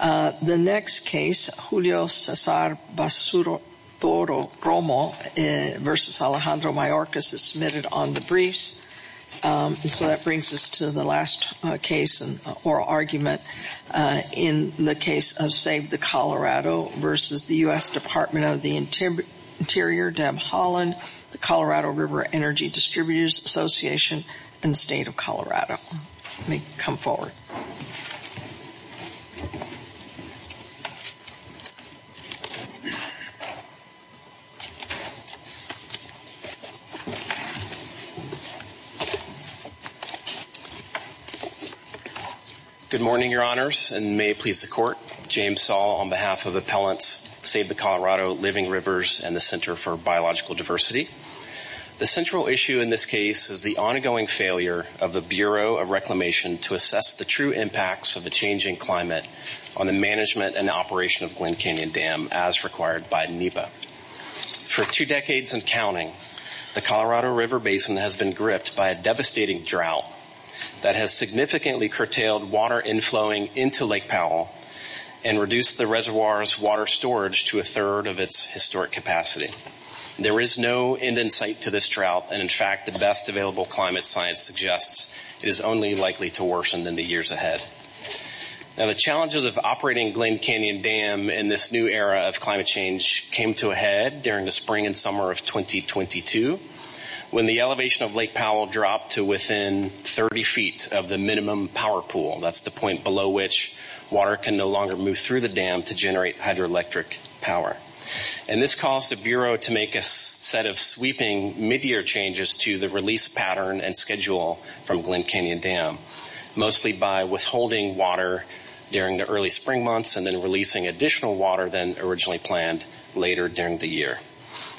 The next case, Julio Cesar Basuro-Toro-Romo v. Alejandro Mayorkas is submitted on the briefs. And so that brings us to the last case or argument in the case of Save the Colorado v. the U.S. Department of the Interior, Deb Haaland, the Colorado River Energy Distributors Association, and the State of Colorado. Let me come forward. Good morning, Your Honors, and may it please the Court. James Saul on behalf of Appellants, Save the Colorado, Living Rivers, and the Center for Biological Diversity. The central issue in this case is the ongoing failure of the Bureau of Reclamation to assess the true impacts of a changing climate on the management and operation of Glen Canyon Dam as required by NEPA. For two decades and counting, the Colorado River Basin has been gripped by a devastating drought that has significantly curtailed water inflowing into Lake Powell and reduced the reservoir's water storage to a third of its historic capacity. There is no end in sight to this drought, and in fact, the best available climate science suggests it is only likely to worsen than the years ahead. Now, the challenges of operating Glen Canyon Dam in this new era of climate change came to a head during the spring and summer of 2022 when the elevation of Lake Powell dropped to within 30 feet of the minimum power pool. That's the point below which water can no longer move through the dam to generate hydroelectric power. And this caused the Bureau to make a set of sweeping mid-year changes to the release pattern and schedule from Glen Canyon Dam, mostly by withholding water during the early spring months and then releasing additional water than originally planned later during the year.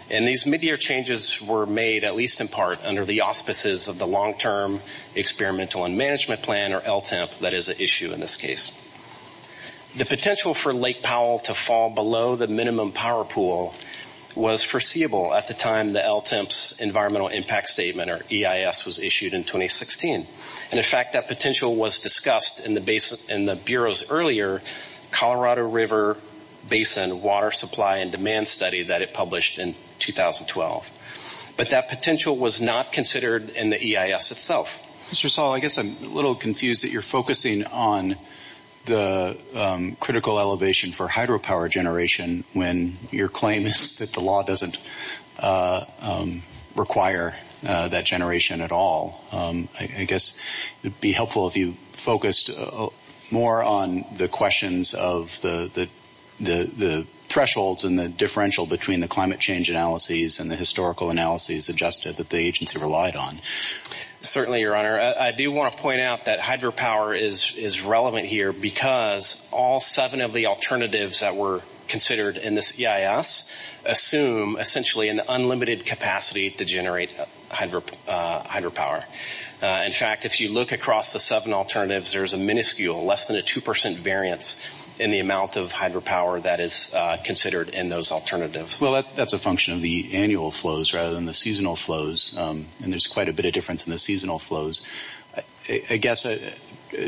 And these mid-year changes were made at least in part under the auspices of the Long-Term Experimental and Management Plan, or LTEMP, that is at issue in this case. The potential for Lake Powell to fall below the minimum power pool was foreseeable at the time the LTEMP's Environmental Impact Statement, or EIS, was issued in 2016. And in fact, that potential was discussed in the Bureau's earlier Colorado River Basin Water Supply and Demand Study that it published in 2012. But that potential was not considered in the EIS itself. Mr. Saul, I guess I'm a little confused that you're focusing on the critical elevation for hydropower generation when your claim is that the law doesn't require that generation at all. I guess it would be helpful if you focused more on the questions of the thresholds and the differential between the climate change analyses and the historical analyses adjusted that the agency relied on. Certainly, Your Honor. I do want to point out that hydropower is relevant here because all seven of the alternatives that were considered in this EIS assume, essentially, an unlimited capacity to generate hydropower. In fact, if you look across the seven alternatives, there's a minuscule, less than a 2% variance in the amount of hydropower that is considered in those alternatives. Well, that's a function of the annual flows rather than the seasonal flows. And there's quite a bit of difference in the seasonal flows. I guess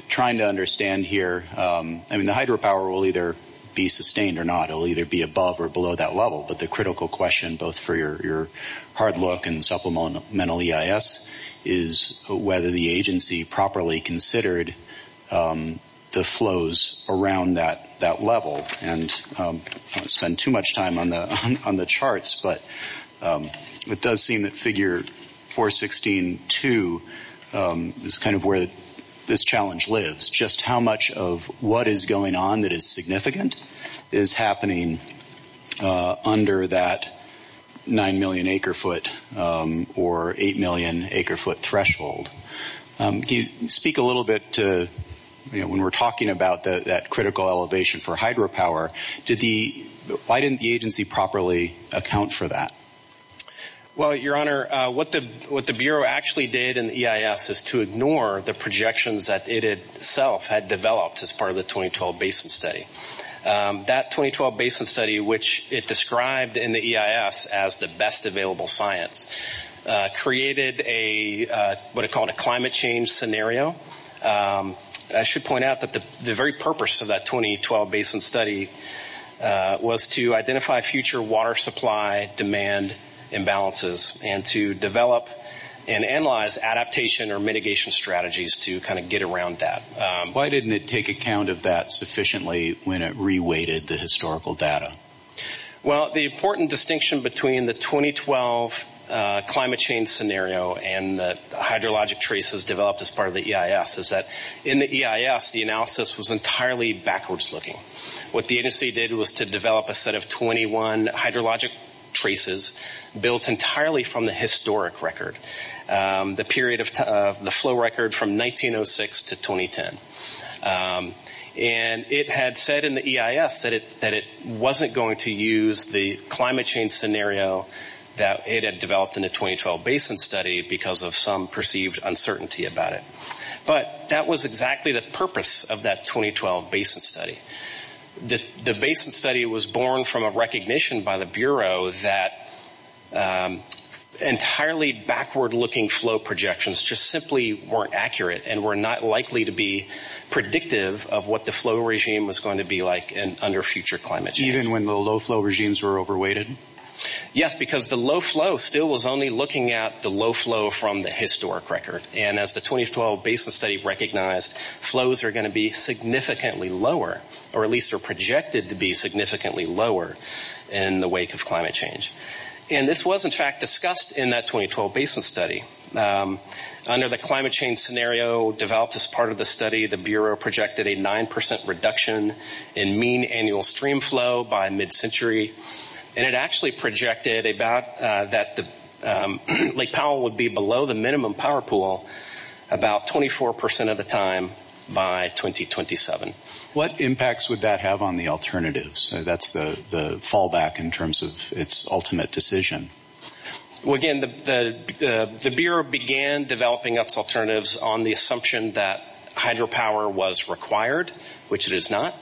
trying to understand here, I mean, the hydropower will either be sustained or not. It will either be above or below that level. But the critical question, both for your hard look and supplemental EIS, is whether the agency properly considered the flows around that level. And I don't want to spend too much time on the charts, but it does seem that figure 416.2 is kind of where this challenge lives. It's just how much of what is going on that is significant is happening under that 9 million acre foot or 8 million acre foot threshold. Can you speak a little bit to when we're talking about that critical elevation for hydropower, why didn't the agency properly account for that? Well, Your Honor, what the Bureau actually did in the EIS is to ignore the projections that it itself had developed as part of the 2012 Basin Study. That 2012 Basin Study, which it described in the EIS as the best available science, created what it called a climate change scenario. I should point out that the very purpose of that 2012 Basin Study was to identify future water supply demand imbalances and to develop and analyze adaptation or mitigation strategies to kind of get around that. Why didn't it take account of that sufficiently when it re-weighted the historical data? Well, the important distinction between the 2012 climate change scenario and the hydrologic traces developed as part of the EIS is that in the EIS, the analysis was entirely backwards looking. What the agency did was to develop a set of 21 hydrologic traces built entirely from the historic record, the flow record from 1906 to 2010. And it had said in the EIS that it wasn't going to use the climate change scenario that it had developed in the 2012 Basin Study because of some perceived uncertainty about it. But that was exactly the purpose of that 2012 Basin Study. The Basin Study was born from a recognition by the Bureau that entirely backward looking flow projections just simply weren't accurate and were not likely to be predictive of what the flow regime was going to be like under future climate change. Even when the low flow regimes were over-weighted? Yes, because the low flow still was only looking at the low flow from the historic record. And as the 2012 Basin Study recognized, flows are going to be significantly lower, or at least are projected to be significantly lower in the wake of climate change. And this was in fact discussed in that 2012 Basin Study. Under the climate change scenario developed as part of the study, the Bureau projected a 9% reduction in mean annual stream flow by mid-century. And it actually projected that Lake Powell would be below the minimum power pool about 24% of the time by 2027. What impacts would that have on the alternatives? That's the fallback in terms of its ultimate decision. Well, again, the Bureau began developing its alternatives on the assumption that hydropower was required, which it is not,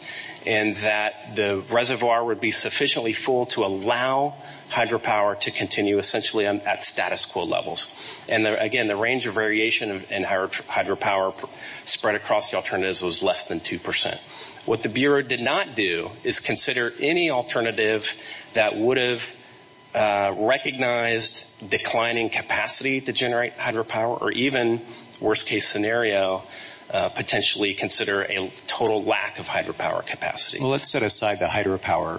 and that the reservoir would be sufficiently full to allow hydropower to continue essentially at status quo levels. And again, the range of variation in hydropower spread across the alternatives was less than 2%. What the Bureau did not do is consider any alternative that would have recognized declining capacity to generate hydropower, or even, worst case scenario, potentially consider a total lack of hydropower capacity. Well, let's set aside the hydropower.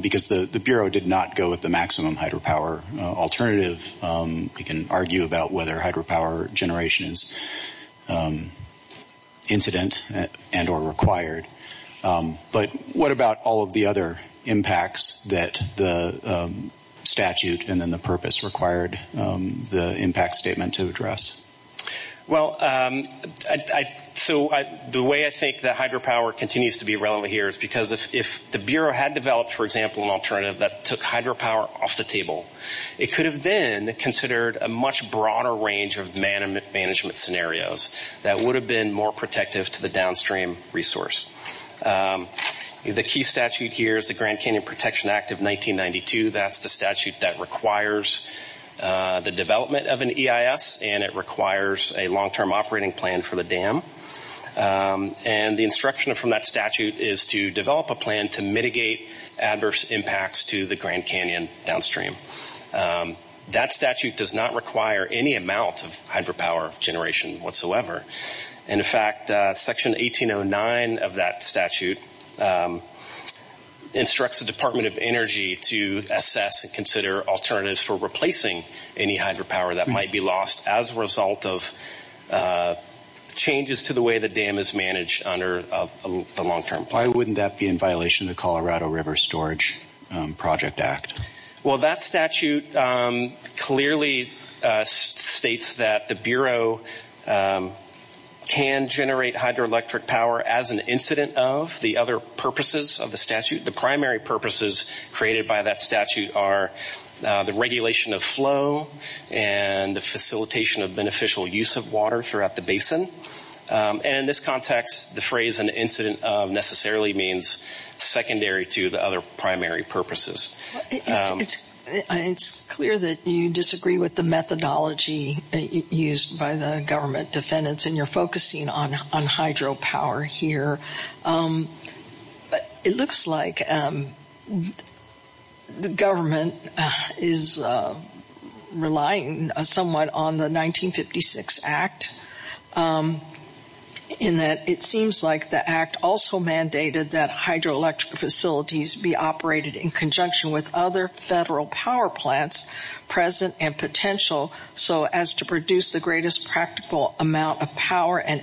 Because the Bureau did not go with the maximum hydropower alternative, we can argue about whether hydropower generation is incident and or required. But what about all of the other impacts that the statute and then the purpose required the impact statement to address? Well, so the way I think that hydropower continues to be relevant here is because if the Bureau had developed, for example, an alternative that took hydropower off the table, it could have been considered a much broader range of management scenarios that would have been more protective to the downstream resource. The key statute here is the Grand Canyon Protection Act of 1992. That's the statute that requires the development of an EIS, and it requires a long-term operating plan for the dam. And the instruction from that statute is to develop a plan to mitigate adverse impacts to the Grand Canyon downstream. That statute does not require any amount of hydropower generation whatsoever. In fact, Section 1809 of that statute instructs the Department of Energy to assess and consider alternatives for replacing any hydropower that might be lost as a result of changes to the way the dam is managed under the long-term plan. Why wouldn't that be in violation of the Colorado River Storage Project Act? Well, that statute clearly states that the Bureau can generate hydroelectric power as an incident of the other purposes of the statute. The primary purposes created by that statute are the regulation of flow and the facilitation of beneficial use of water throughout the basin. And in this context, the phrase an incident of necessarily means secondary to the other primary purposes. It's clear that you disagree with the methodology used by the government defendants, and you're focusing on hydropower here. But it looks like the government is relying somewhat on the 1956 Act, in that it seems like the Act also mandated that hydroelectric facilities be operated in conjunction with other federal power plants present and potential so as to produce the greatest practical amount of power and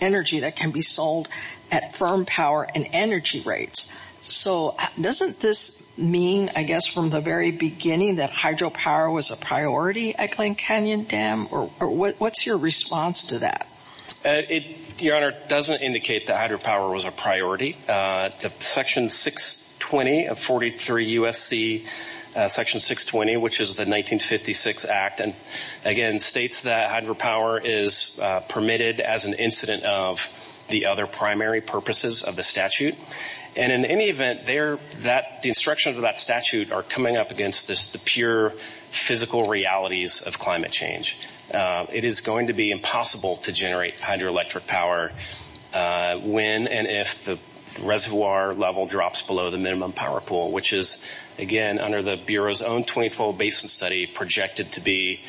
energy that can be sold at firm power and energy rates. So doesn't this mean, I guess, from the very beginning that hydropower was a priority at Glen Canyon Dam? What's your response to that? Your Honor, it doesn't indicate that hydropower was a priority. Section 620 of 43 U.S.C. Section 620, which is the 1956 Act, again states that hydropower is permitted as an incident of the other primary purposes of the statute. And in any event, the instructions of that statute are coming up against the pure physical realities of climate change. It is going to be impossible to generate hydroelectric power when and if the reservoir level drops below the minimum power pool, which is, again, under the Bureau's own 20-fold basin study projected to be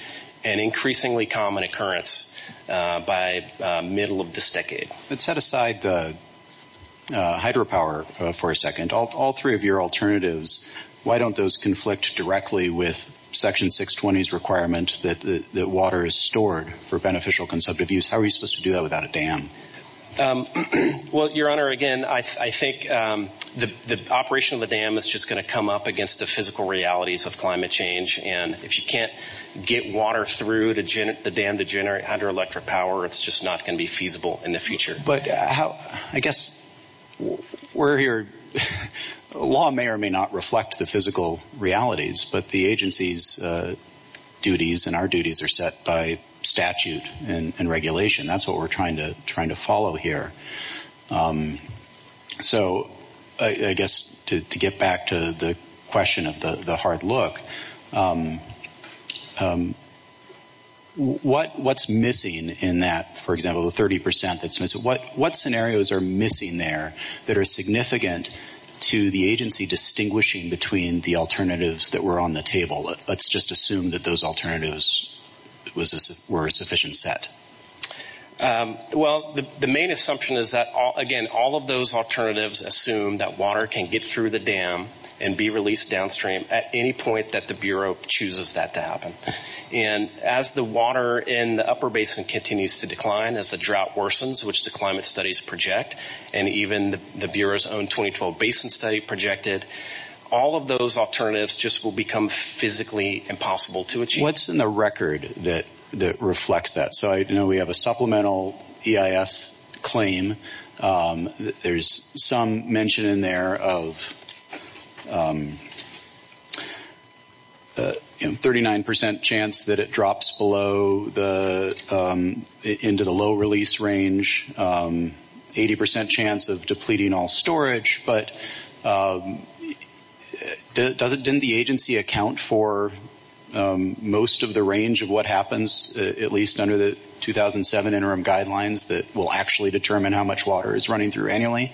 an increasingly common occurrence by middle of this decade. But set aside the hydropower for a second. All three of your alternatives, why don't those conflict directly with Section 620's requirement that water is stored for beneficial consumptive use? How are you supposed to do that without a dam? Well, Your Honor, again, I think the operation of the dam is just going to come up against the physical realities of climate change. And if you can't get water through the dam to generate hydroelectric power, it's just not going to be feasible in the future. But I guess we're here. Law may or may not reflect the physical realities, but the agency's duties and our duties are set by statute and regulation. That's what we're trying to follow here. So I guess to get back to the question of the hard look, what's missing in that, for example, the 30% that's missing? What scenarios are missing there that are significant to the agency distinguishing between the alternatives that were on the table? Let's just assume that those alternatives were a sufficient set. Well, the main assumption is that, again, all of those alternatives assume that water can get through the dam and be released downstream at any point that the Bureau chooses that to happen. And as the water in the upper basin continues to decline, as the drought worsens, which the climate studies project, and even the Bureau's own 2012 basin study projected, all of those alternatives just will become physically impossible to achieve. What's in the record that reflects that? So I know we have a supplemental EIS claim. There's some mention in there of a 39% chance that it drops below into the low-release range, 80% chance of depleting all storage. But didn't the agency account for most of the range of what happens, at least under the 2007 interim guidelines, that will actually determine how much water is running through annually?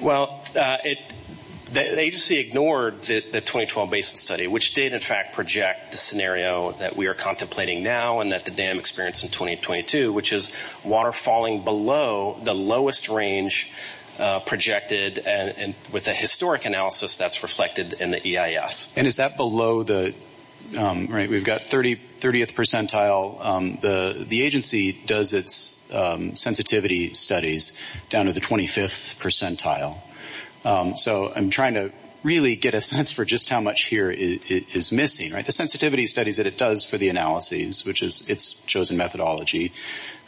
Well, the agency ignored the 2012 basin study, which did, in fact, project the scenario that we are contemplating now and that the dam experienced in 2022, which is water falling below the lowest range projected, and with a historic analysis that's reflected in the EIS. And is that below the, right, we've got 30th percentile. The agency does its sensitivity studies down to the 25th percentile. So I'm trying to really get a sense for just how much here is missing, right, the sensitivity studies that it does for the analyses, which is its chosen methodology,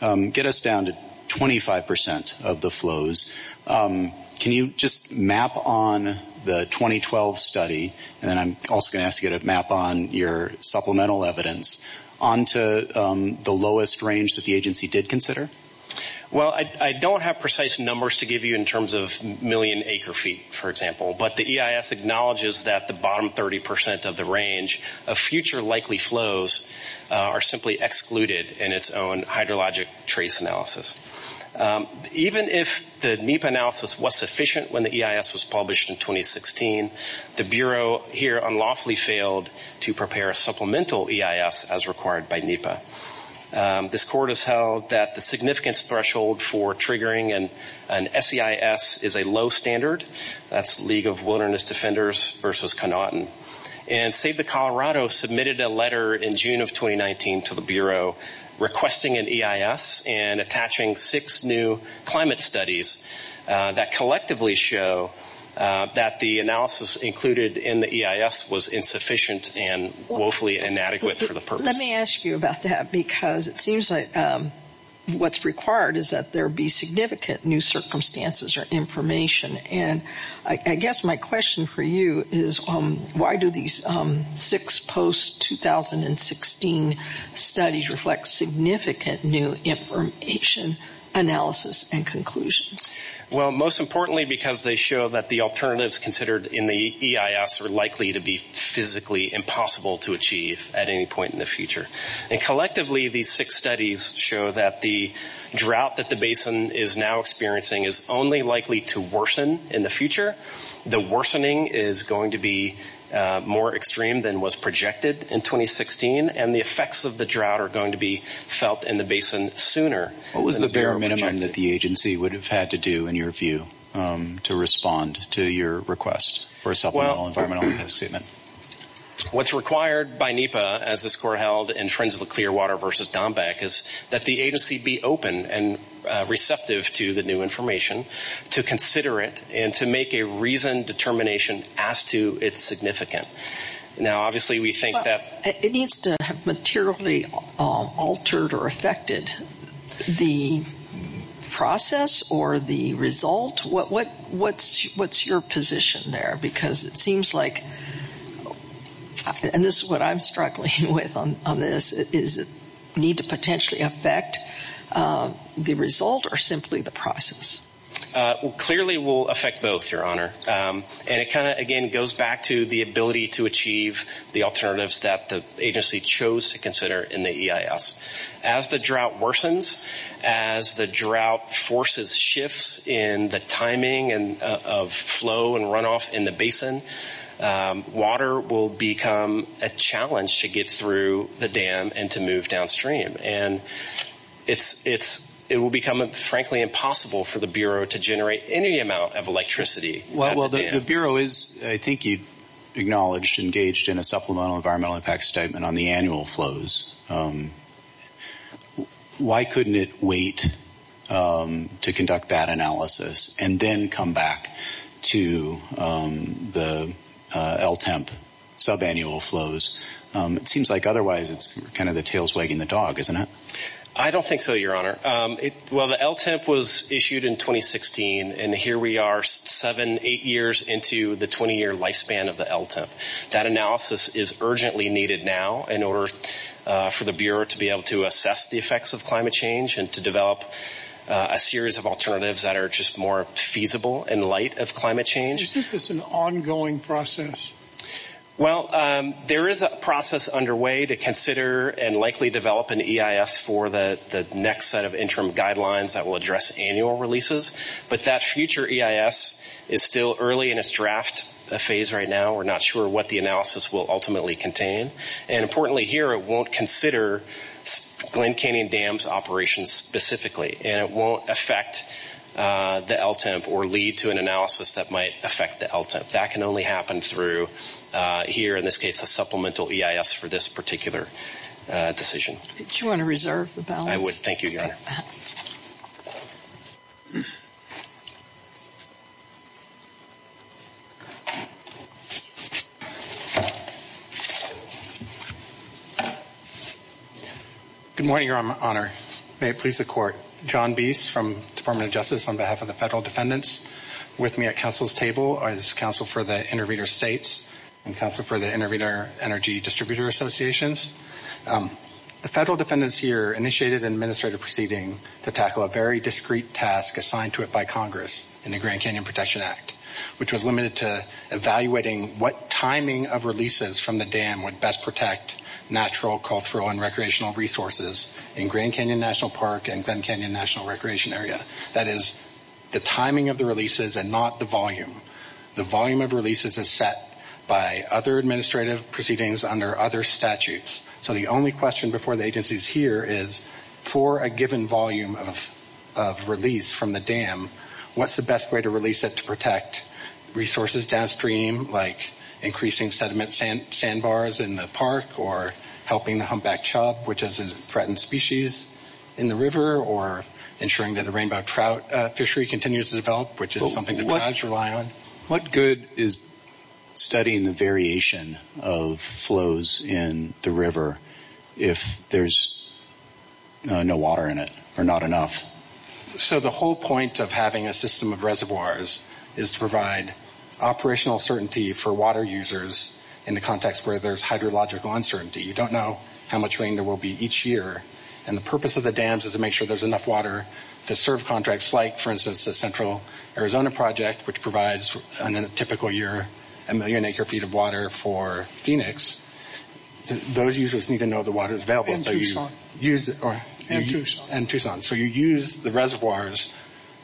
get us down to 25% of the flows. Can you just map on the 2012 study, and then I'm also going to ask you to map on your supplemental evidence, onto the lowest range that the agency did consider? Well, I don't have precise numbers to give you in terms of million acre feet, for example. But the EIS acknowledges that the bottom 30% of the range of future likely flows are simply excluded in its own hydrologic trace analysis. Even if the NEPA analysis was sufficient when the EIS was published in 2016, the Bureau here unlawfully failed to prepare a supplemental EIS as required by NEPA. This court has held that the significance threshold for triggering an SEIS is a low standard. That's League of Wilderness Defenders versus Connaughton. And Save the Colorado submitted a letter in June of 2019 to the Bureau requesting an EIS and attaching six new climate studies that collectively show that the analysis included in the EIS was insufficient and woefully inadequate for the purpose. Let me ask you about that because it seems like what's required is that there be significant new circumstances or information. And I guess my question for you is why do these six post-2016 studies reflect significant new information analysis and conclusions? Well, most importantly because they show that the alternatives considered in the EIS are likely to be physically impossible to achieve at any point in the future. And collectively, these six studies show that the drought that the basin is now experiencing is only likely to worsen in the future. The worsening is going to be more extreme than was projected in 2016, and the effects of the drought are going to be felt in the basin sooner than the Bureau projected. What was the bare minimum that the agency would have had to do, in your view, to respond to your request for a supplemental environmental EIS statement? What's required by NEPA, as this court held in Friends of the Clearwater versus Dombeck, is that the agency be open and receptive to the new information, to consider it, and to make a reasoned determination as to its significance. Now, obviously we think that... It needs to have materially altered or affected the process or the result. What's your position there? Because it seems like, and this is what I'm struggling with on this, is it needs to potentially affect the result or simply the process? Clearly, it will affect both, Your Honor. And it kind of, again, goes back to the ability to achieve the alternatives that the agency chose to consider in the EIS. As the drought worsens, as the drought forces shifts in the timing of flow and runoff in the basin, water will become a challenge to get through the dam and to move downstream. And it will become, frankly, impossible for the Bureau to generate any amount of electricity. Well, the Bureau is, I think you acknowledged, engaged in a supplemental environmental impact statement on the annual flows. Why couldn't it wait to conduct that analysis and then come back to the LTEMP subannual flows? It seems like otherwise it's kind of the tails wagging the dog, isn't it? I don't think so, Your Honor. Well, the LTEMP was issued in 2016, and here we are seven, eight years into the 20-year lifespan of the LTEMP. That analysis is urgently needed now in order for the Bureau to be able to assess the effects of climate change and to develop a series of alternatives that are just more feasible in light of climate change. Isn't this an ongoing process? Well, there is a process underway to consider and likely develop an EIS for the next set of interim guidelines that will address annual releases. But that future EIS is still early in its draft phase right now. We're not sure what the analysis will ultimately contain. And importantly here, it won't consider Glen Canyon Dam's operations specifically, and it won't affect the LTEMP or lead to an analysis that might affect the LTEMP. That can only happen through here, in this case, a supplemental EIS for this particular decision. Did you want to reserve the balance? I would. Thank you, Your Honor. Thank you, Your Honor. Good morning, Your Honor. May it please the Court. John Biese from the Department of Justice on behalf of the Federal Defendants with me at Council's table as Counsel for the Intervenor States and Counsel for the Intervenor Energy Distributor Associations. The Federal Defendants here initiated an administrative proceeding to tackle a very discrete task assigned to it by Congress in the Grand Canyon Protection Act, which was limited to evaluating what timing of releases from the dam would best protect natural, cultural, and recreational resources in Grand Canyon National Park and Glen Canyon National Recreation Area. That is, the timing of the releases and not the volume. The volume of releases is set by other administrative proceedings under other statutes. So the only question before the agencies here is, for a given volume of release from the dam, what's the best way to release it to protect resources downstream, like increasing sediment sandbars in the park or helping the humpback chub, which is a threatened species in the river, What good is studying the variation of flows in the river if there's no water in it or not enough? So the whole point of having a system of reservoirs is to provide operational certainty for water users in the context where there's hydrological uncertainty. You don't know how much rain there will be each year. And the purpose of the dams is to make sure there's enough water to serve contracts, much like, for instance, the Central Arizona Project, which provides, in a typical year, a million acre-feet of water for Phoenix. Those users need to know the water's available. And Tucson. And Tucson. So you use the reservoirs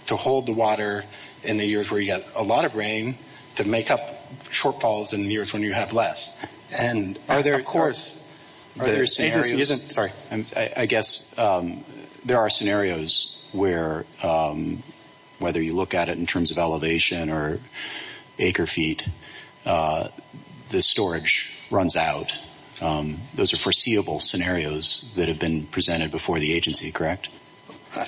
to hold the water in the years where you get a lot of rain to make up shortfalls in years when you have less. And, of course, the agency isn't... whether you look at it in terms of elevation or acre-feet, the storage runs out. Those are foreseeable scenarios that have been presented before the agency, correct?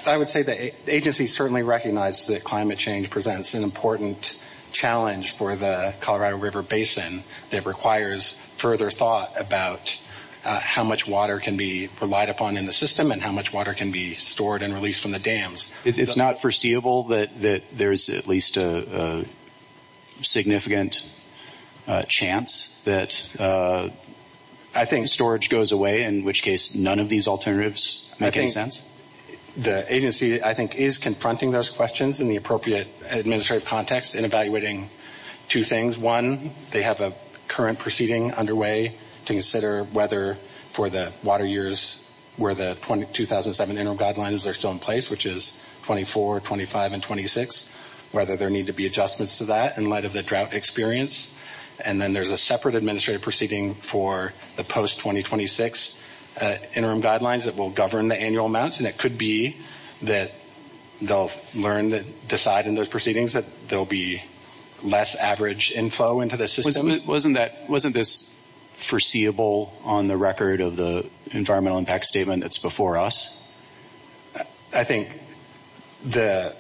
I would say the agency certainly recognizes that climate change presents an important challenge for the Colorado River Basin that requires further thought about how much water can be relied upon in the system and how much water can be stored and released from the dams. It's not foreseeable that there's at least a significant chance that, I think, storage goes away, in which case none of these alternatives make any sense? The agency, I think, is confronting those questions in the appropriate administrative context and evaluating two things. One, they have a current proceeding underway to consider whether, for the water years where the 2007 interim guidelines are still in place, which is 24, 25, and 26, whether there need to be adjustments to that in light of the drought experience. And then there's a separate administrative proceeding for the post-2026 interim guidelines that will govern the annual amounts. And it could be that they'll learn, decide in those proceedings, that there will be less average inflow into the system. Wasn't this foreseeable on the record of the environmental impact statement that's before us? I think the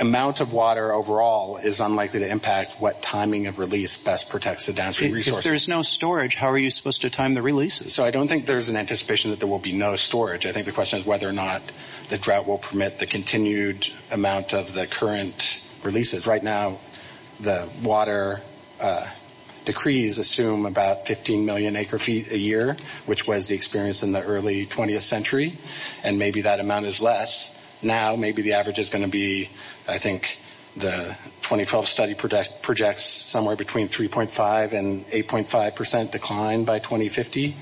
amount of water overall is unlikely to impact what timing of release best protects the downstream resources. If there's no storage, how are you supposed to time the releases? So I don't think there's an anticipation that there will be no storage. I think the question is whether or not the drought will permit the continued amount of the current releases. Right now the water decrees assume about 15 million acre-feet a year, which was the experience in the early 20th century, and maybe that amount is less. Now maybe the average is going to be, I think the 2012 study projects somewhere between 3.5% and 8.5% decline by 2050.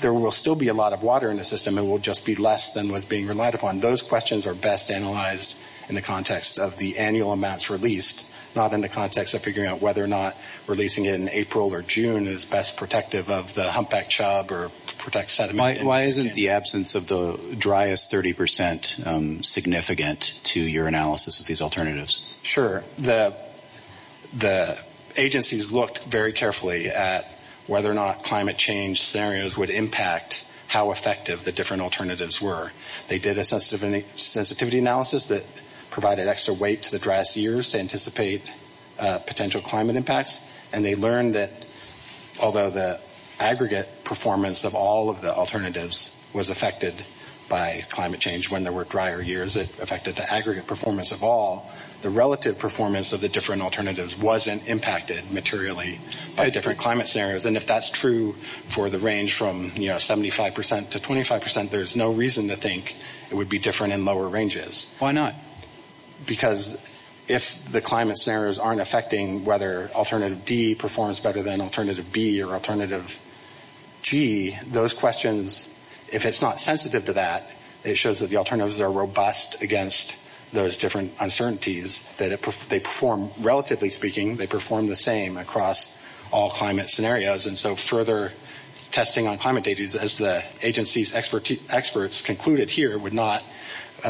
There will still be a lot of water in the system. It will just be less than what's being relied upon. Those questions are best analyzed in the context of the annual amounts released, not in the context of figuring out whether or not releasing it in April or June is best protective of the humpback chub or protects sediment. Why isn't the absence of the driest 30% significant to your analysis of these alternatives? Sure. The agencies looked very carefully at whether or not climate change scenarios would impact how effective the different alternatives were. They did a sensitivity analysis that provided extra weight to the driest years to anticipate potential climate impacts, and they learned that although the aggregate performance of all of the alternatives was affected by climate change, when there were drier years it affected the aggregate performance of all, the relative performance of the different alternatives wasn't impacted materially by different climate scenarios. If that's true for the range from 75% to 25%, there's no reason to think it would be different in lower ranges. Why not? Because if the climate scenarios aren't affecting whether alternative D performs better than alternative B or alternative G, those questions, if it's not sensitive to that, it shows that the alternatives are robust against those different uncertainties. Relatively speaking, they perform the same across all climate scenarios, and so further testing on climate data, as the agency's experts concluded here, would not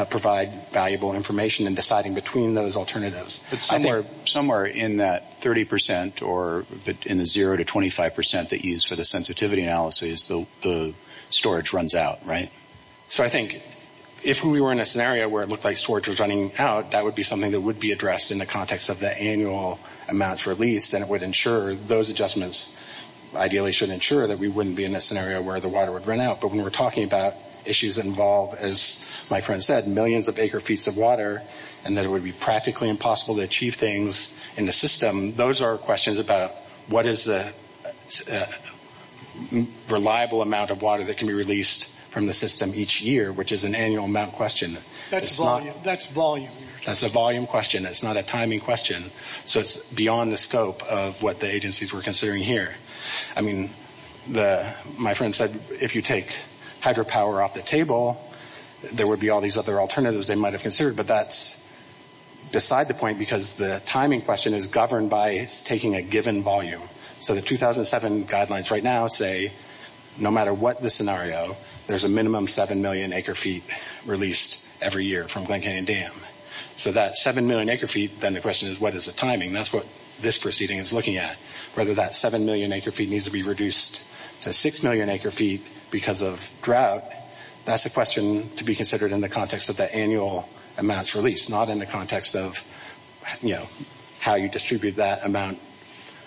provide valuable information in deciding between those alternatives. Somewhere in that 30% or in the 0% to 25% that you used for the sensitivity analysis, the storage runs out, right? So I think if we were in a scenario where it looked like storage was running out, that would be something that would be addressed in the context of the annual amounts released, and it would ensure those adjustments ideally should ensure that we wouldn't be in a scenario where the water would run out. But when we're talking about issues that involve, as my friend said, millions of acre-feet of water, and that it would be practically impossible to achieve things in the system, those are questions about what is the reliable amount of water that can be released from the system each year, which is an annual amount question. That's volume. That's a volume question. It's not a timing question. So it's beyond the scope of what the agencies were considering here. I mean, my friend said if you take hydropower off the table, there would be all these other alternatives they might have considered, but that's beside the point because the timing question is governed by taking a given volume. So the 2007 guidelines right now say no matter what the scenario, there's a minimum 7 million acre-feet released every year from Glen Canyon Dam. So that 7 million acre-feet, then the question is what is the timing? That's what this proceeding is looking at. Whether that 7 million acre-feet needs to be reduced to 6 million acre-feet because of drought, that's a question to be considered in the context of the annual amounts released, not in the context of how you distribute that amount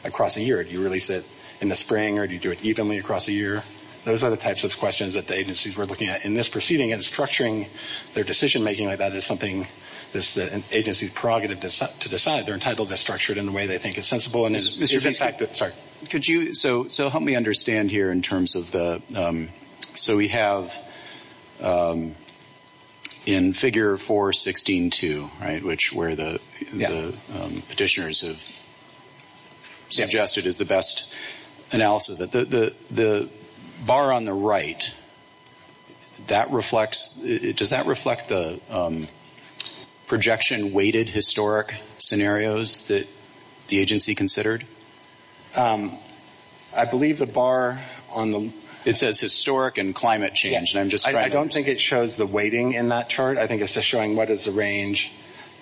across the year. Do you release it in the spring or do you do it evenly across the year? Those are the types of questions that the agencies were looking at in this proceeding, and structuring their decision-making like that is something the agency's prerogative to decide. They're entitled to structure it in the way they think is sensible. So help me understand here in terms of the—so we have in Figure 4.16.2, right, where the petitioners have suggested is the best analysis. The bar on the right, does that reflect the projection-weighted historic scenarios that the agency considered? I believe the bar on the— It says historic and climate change, and I'm just trying to understand. I don't think it shows the weighting in that chart. I think it's just showing what is the range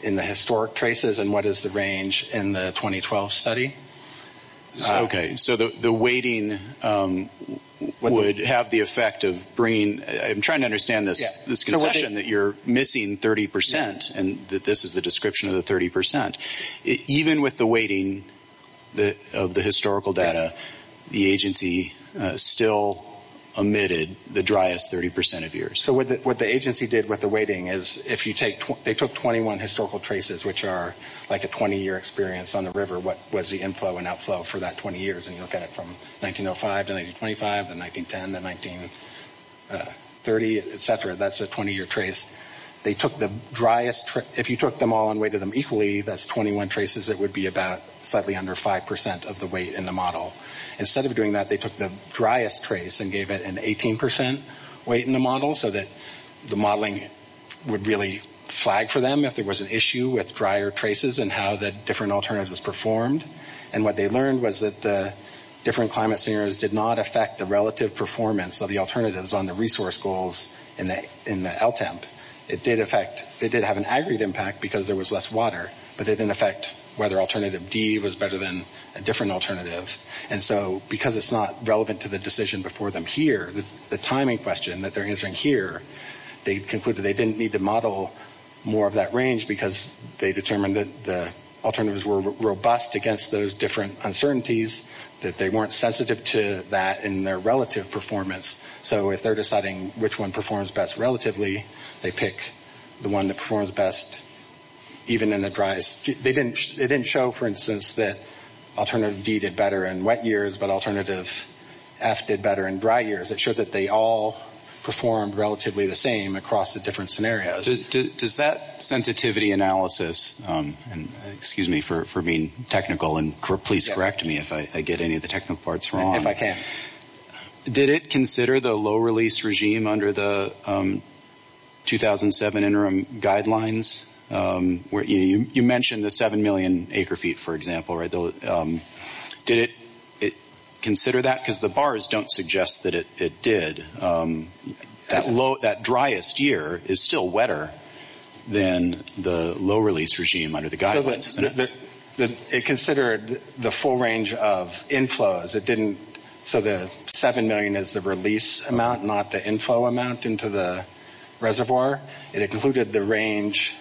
in the historic traces and what is the range in the 2012 study. Okay, so the weighting would have the effect of bringing— I'm trying to understand this concession that you're missing 30 percent and that this is the description of the 30 percent. Even with the weighting of the historical data, the agency still omitted the driest 30 percent of years. So what the agency did with the weighting is they took 21 historical traces, which are like a 20-year experience on the river, what was the inflow and outflow for that 20 years, and you look at it from 1905 to 1925 to 1910 to 1930, et cetera. That's a 20-year trace. They took the driest— If you took them all and weighted them equally, that's 21 traces. It would be about slightly under 5 percent of the weight in the model. Instead of doing that, they took the driest trace and gave it an 18 percent weight in the model so that the modeling would really flag for them if there was an issue with drier traces and how the different alternatives performed. And what they learned was that the different climate scenarios did not affect the relative performance of the alternatives on the resource goals in the LTEMP. It did have an aggregate impact because there was less water, but it didn't affect whether alternative D was better than a different alternative. And so because it's not relevant to the decision before them here, the timing question that they're answering here, they concluded they didn't need to model more of that range because they determined that the alternatives were robust against those different uncertainties, that they weren't sensitive to that in their relative performance. So if they're deciding which one performs best relatively, they pick the one that performs best even in the driest. They didn't show, for instance, that alternative D did better in wet years, but alternative F did better in dry years. It showed that they all performed relatively the same across the different scenarios. Does that sensitivity analysis, and excuse me for being technical, and please correct me if I get any of the technical parts wrong. If I can. Did it consider the low-release regime under the 2007 interim guidelines? You mentioned the 7 million acre feet, for example. Did it consider that? Because the bars don't suggest that it did. That driest year is still wetter than the low-release regime under the guidelines. It considered the full range of inflows. So the 7 million is the release amount, not the inflow amount into the reservoir. It included the range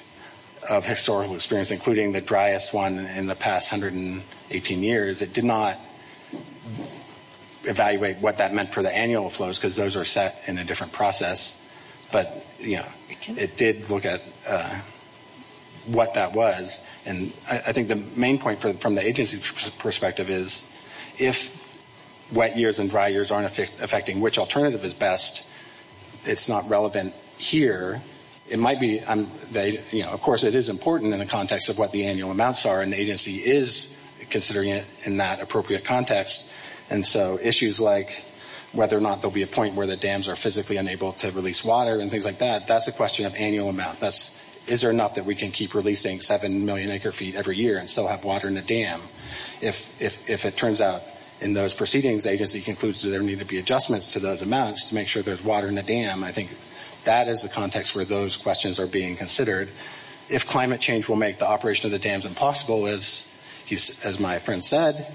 of historical experience, including the driest one in the past 118 years. It did not evaluate what that meant for the annual flows because those are set in a different process. But it did look at what that was, and I think the main point from the agency's perspective is if wet years and dry years aren't affecting which alternative is best, it's not relevant here. Of course, it is important in the context of what the annual amounts are, and the agency is considering it in that appropriate context. And so issues like whether or not there will be a point where the dams are physically unable to release water and things like that, that's a question of annual amount. Is there enough that we can keep releasing 7 million acre feet every year and still have water in the dam? If it turns out in those proceedings, the agency concludes that there need to be adjustments to those amounts to make sure there's water in the dam, I think that is the context where those questions are being considered. If climate change will make the operation of the dams impossible, as my friend said,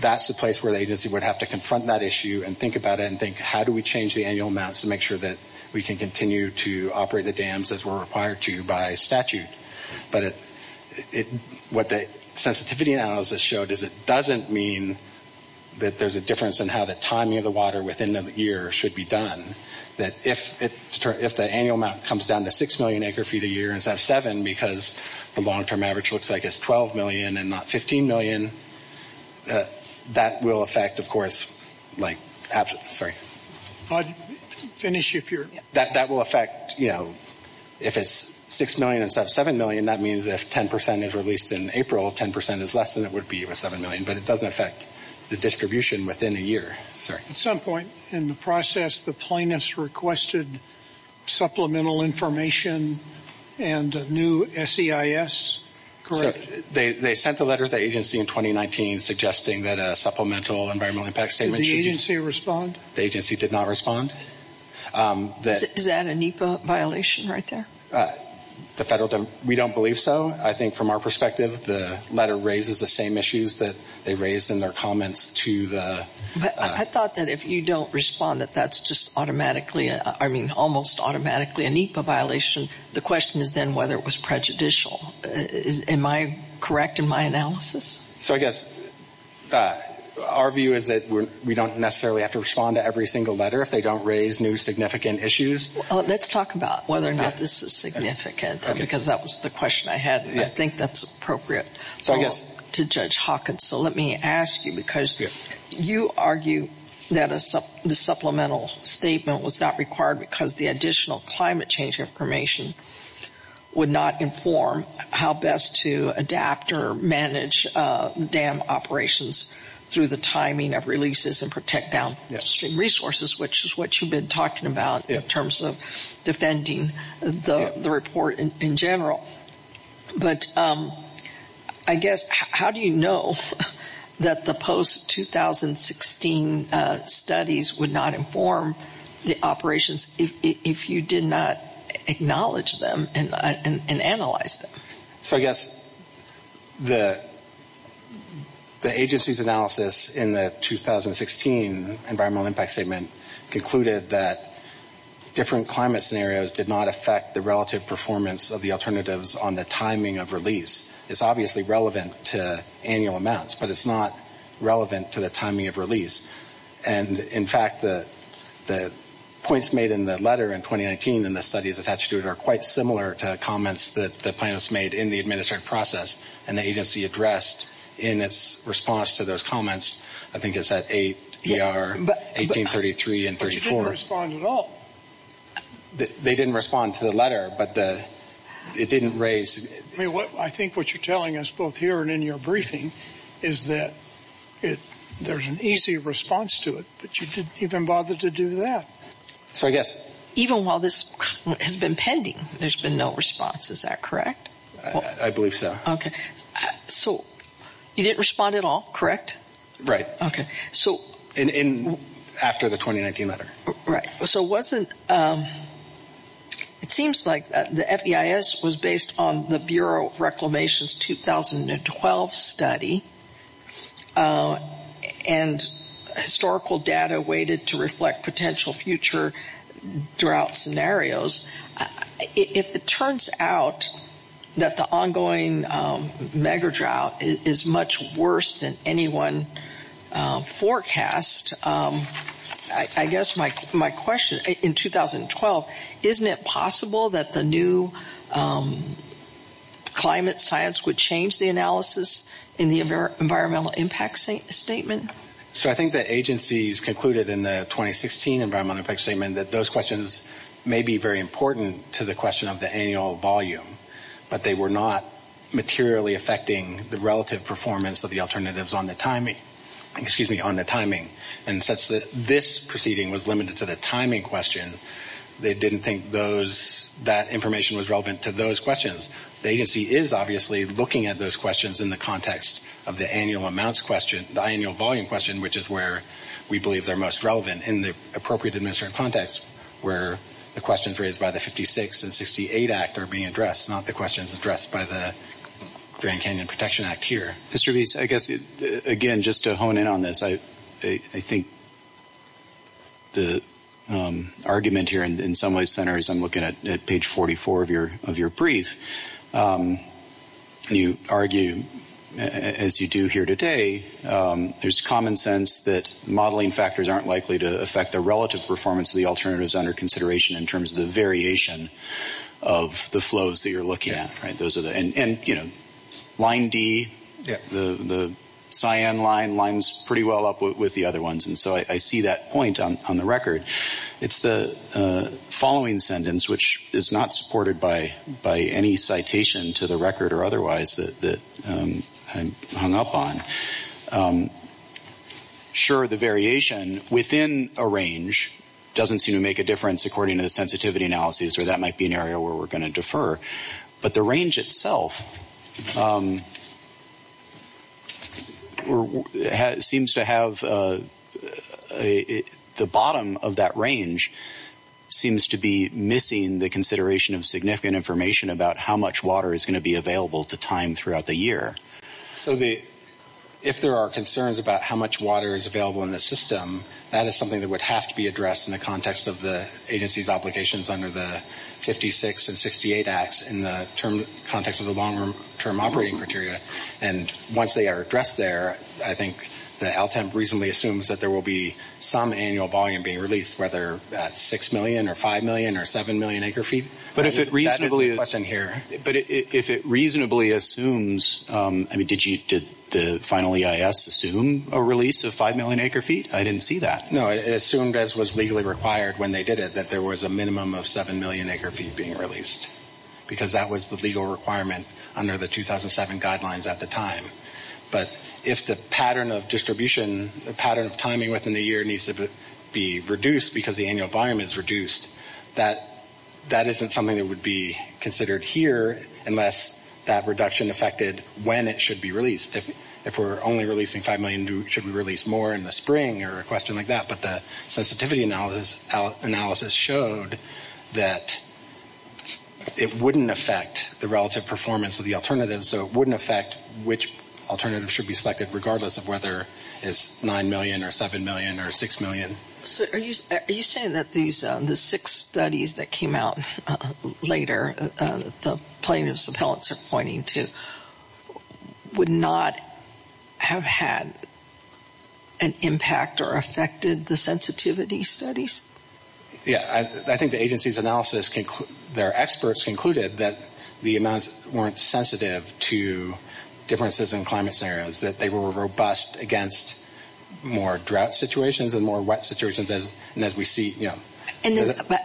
that's the place where the agency would have to confront that issue and think about it and think how do we change the annual amounts to make sure that we can continue to operate the dams as we're required to by statute. But what the sensitivity analysis showed is it doesn't mean that there's a difference in how the timing of the water within the year should be done. That if the annual amount comes down to 6 million acre feet a year instead of 7 because the long-term average looks like it's 12 million and not 15 million, that will affect, of course, if it's 6 million instead of 7 million, that means if 10 percent is released in April, 10 percent is less than it would be with 7 million. But it doesn't affect the distribution within a year. At some point in the process, the plaintiffs requested supplemental information and a new SEIS, correct? They sent a letter to the agency in 2019 suggesting that a supplemental environmental impact statement. Did the agency respond? The agency did not respond. Is that a NEPA violation right there? We don't believe so. I think from our perspective, the letter raises the same issues that they raised in their comments to the— I thought that if you don't respond that that's just automatically, I mean almost automatically a NEPA violation. The question is then whether it was prejudicial. Am I correct in my analysis? So I guess our view is that we don't necessarily have to respond to every single letter if they don't raise new significant issues. Let's talk about whether or not this is significant because that was the question I had. I think that's appropriate to Judge Hawkins. So let me ask you because you argue that the supplemental statement was not required because the additional climate change information would not inform how best to adapt or manage dam operations through the timing of releases and protect downstream resources, which is what you've been talking about in terms of defending the report in general. But I guess how do you know that the post-2016 studies would not inform the operations if you did not acknowledge them and analyze them? So I guess the agency's analysis in the 2016 environmental impact statement concluded that different climate scenarios did not affect the relative performance of the alternatives on the timing of release. It's obviously relevant to annual amounts, but it's not relevant to the timing of release. And, in fact, the points made in the letter in 2019 and the studies attached to it are quite similar to comments that the plaintiffs made in the administrative process and the agency addressed in its response to those comments. I think it's at 8 ER 1833 and 34. But you didn't respond at all. They didn't respond to the letter, but it didn't raise... I think what you're telling us both here and in your briefing is that there's an easy response to it, but you didn't even bother to do that. So I guess... Even while this has been pending, there's been no response. Is that correct? I believe so. Okay. So you didn't respond at all, correct? Right. Okay. After the 2019 letter. Right. So it wasn't... It seems like the FEIS was based on the Bureau of Reclamation's 2012 study and historical data weighted to reflect potential future drought scenarios. If it turns out that the ongoing mega drought is much worse than anyone forecast, I guess my question, in 2012, isn't it possible that the new climate science would change the analysis in the environmental impact statement? So I think the agencies concluded in the 2016 environmental impact statement that those questions may be very important to the question of the annual volume, but they were not materially affecting the relative performance of the alternatives on the timing. And since this proceeding was limited to the timing question, they didn't think that information was relevant to those questions. The agency is obviously looking at those questions in the context of the annual volume question, which is where we believe they're most relevant in the appropriate administrative context where the questions raised by the 56 and 68 Act are being addressed, not the questions addressed by the Grand Canyon Protection Act here. Mr. Bies, I guess, again, just to hone in on this, I think the argument here in some ways centers on looking at page 44 of your brief. You argue, as you do here today, there's common sense that modeling factors aren't likely to affect the relative performance of the alternatives under consideration in terms of the variation of the flows that you're looking at. Line D, the cyan line, lines pretty well up with the other ones, and so I see that point on the record. It's the following sentence, which is not supported by any citation to the record or otherwise that I'm hung up on. Sure, the variation within a range doesn't seem to make a difference according to the sensitivity analysis, or that might be an area where we're going to defer, but the range itself seems to have the bottom of that range seems to be missing the consideration of significant information about how much water is going to be available to time throughout the year. So if there are concerns about how much water is available in the system, that is something that would have to be addressed in the context of the agency's applications under the 56 and 68 acts in the context of the long-term operating criteria, and once they are addressed there, I think the LTEMP reasonably assumes that there will be some annual volume being released, whether that's 6 million or 5 million or 7 million acre feet. But if it reasonably assumes, I mean, did the final EIS assume a release of 5 million acre feet? I didn't see that. No, it assumed, as was legally required when they did it, that there was a minimum of 7 million acre feet being released because that was the legal requirement under the 2007 guidelines at the time. But if the pattern of distribution, the pattern of timing within the year needs to be reduced because the annual volume is reduced, that isn't something that would be considered here unless that reduction affected when it should be released. If we're only releasing 5 million, should we release more in the spring or a question like that? But the sensitivity analysis showed that it wouldn't affect the relative performance of the alternatives, so it wouldn't affect which alternatives should be selected, regardless of whether it's 9 million or 7 million or 6 million. So are you saying that the six studies that came out later, that the plaintiff's appellants are pointing to, would not have had an impact or affected the sensitivity studies? Yeah. I think the agency's analysis, their experts concluded that the amounts weren't sensitive to differences in climate scenarios, that they were robust against more drought situations and more wet situations as we see.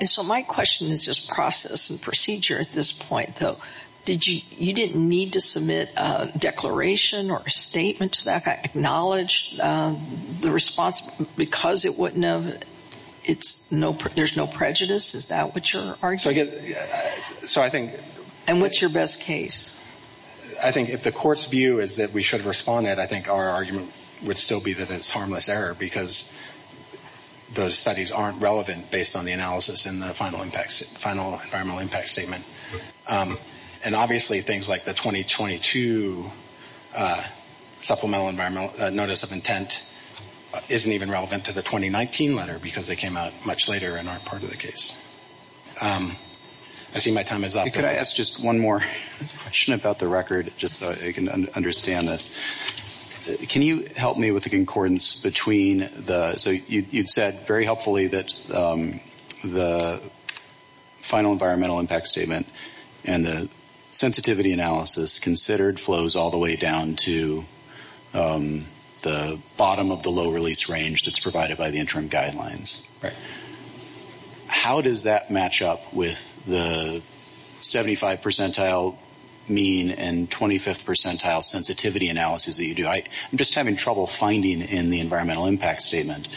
So my question is just process and procedure at this point, though. You didn't need to submit a declaration or a statement to that, acknowledge the response because it wouldn't have, there's no prejudice? Is that what you're arguing? And what's your best case? I think if the court's view is that we should have responded, I think our argument would still be that it's harmless error because those studies aren't relevant based on the analysis in the final environmental impact statement. And obviously things like the 2022 supplemental environmental notice of intent isn't even relevant to the 2019 letter because they came out much later and aren't part of the case. I see my time is up. Could I ask just one more question about the record just so I can understand this? Can you help me with the concordance between the, so you said very helpfully that the final environmental impact statement and the sensitivity analysis considered flows all the way down to the bottom of the low release range that's provided by the interim guidelines. How does that match up with the 75 percentile mean and 25th percentile sensitivity analysis that you do? I'm just having trouble finding in the environmental impact statement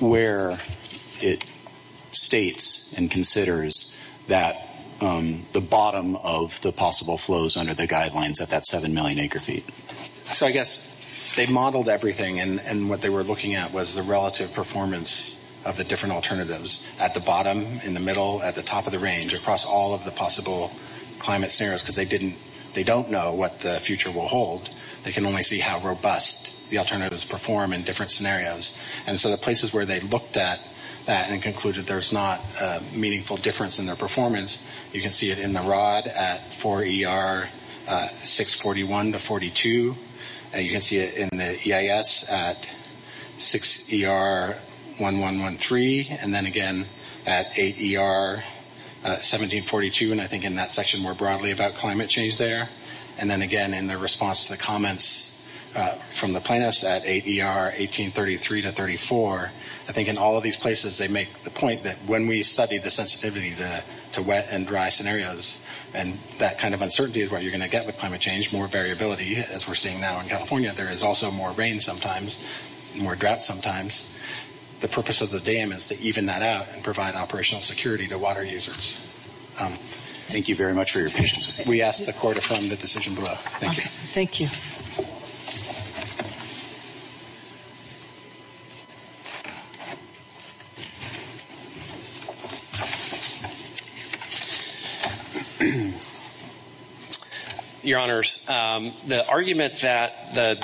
where it states and considers that the bottom of the possible flows under the guidelines at that 7 million acre feet. So I guess they modeled everything and what they were looking at was the relative performance of the different alternatives at the bottom, in the middle, at the top of the range, across all of the possible climate scenarios because they don't know what the future will hold. They can only see how robust the alternatives perform in different scenarios. And so the places where they looked at that and concluded there's not a meaningful difference in their performance, you can see it in the ROD at 4 ER 641 to 42. You can see it in the EIS at 6 ER 1113 and then again at 8 ER 1742 and I think in that section more broadly about climate change there. And then again in the response to the comments from the plaintiffs at 8 ER 1833 to 34. I think in all of these places they make the point that when we study the sensitivity to wet and dry scenarios and that kind of uncertainty is what you're going to get with climate change, more variability as we're seeing now in California. There is also more rain sometimes, more drought sometimes. The purpose of the dam is to even that out and provide operational security to water users. Thank you very much for your patience. We ask the court to affirm the decision below. Thank you. Thank you. Your Honors, the argument that the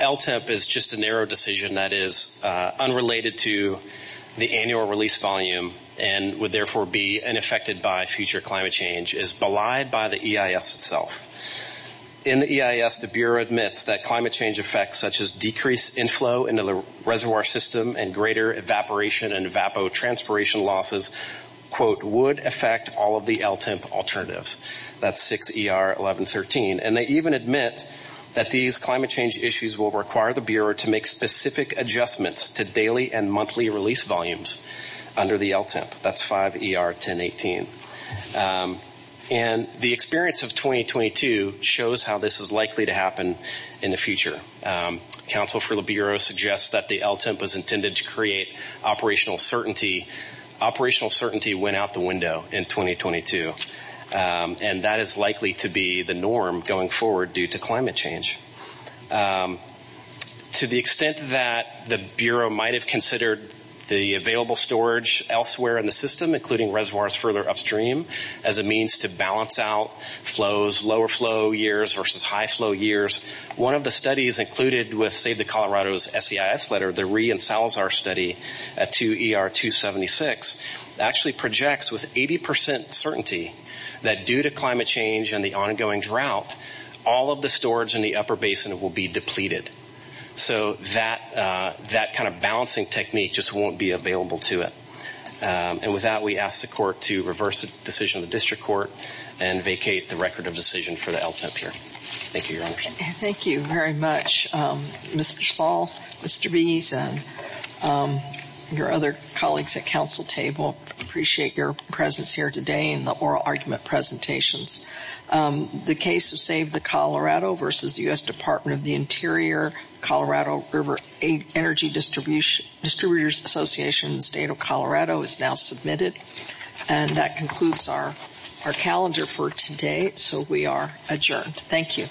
LTIP is just a narrow decision that is unrelated to the annual release volume and would therefore be unaffected by future climate change is belied by the EIS itself. In the EIS the Bureau admits that climate change effects such as decreased inflow into the reservoir system and greater evaporation and evapotranspiration losses, quote, would affect all of the LTIP alternatives. That's 6 ER 1113. And they even admit that these climate change issues will require the Bureau to make specific adjustments to daily and monthly release volumes under the LTIP. That's 5 ER 1018. And the experience of 2022 shows how this is likely to happen in the future. Counsel for the Bureau suggests that the LTIP was intended to create operational certainty. Operational certainty went out the window in 2022. And that is likely to be the norm going forward due to climate change. To the extent that the Bureau might have considered the available storage elsewhere in the system, including reservoirs further upstream, as a means to balance out flows, lower flow years versus high flow years, one of the studies included with Save the Colorado's SEIS letter, the Ree and Salazar study at 2 ER 276, actually projects with 80% certainty that due to climate change and the ongoing drought, all of the storage in the upper basin will be depleted. So that kind of balancing technique just won't be available to it. And with that, we ask the court to reverse the decision of the district court and vacate the record of decision for the LTIP here. Thank you, Your Honor. Thank you very much, Mr. Saul, Mr. Beeson, your other colleagues at counsel table. Appreciate your presence here today and the oral argument presentations. The case of Save the Colorado versus U.S. Department of the Interior, Colorado River Energy Distributors Association in the state of Colorado is now submitted. And that concludes our calendar for today. So we are adjourned. Thank you.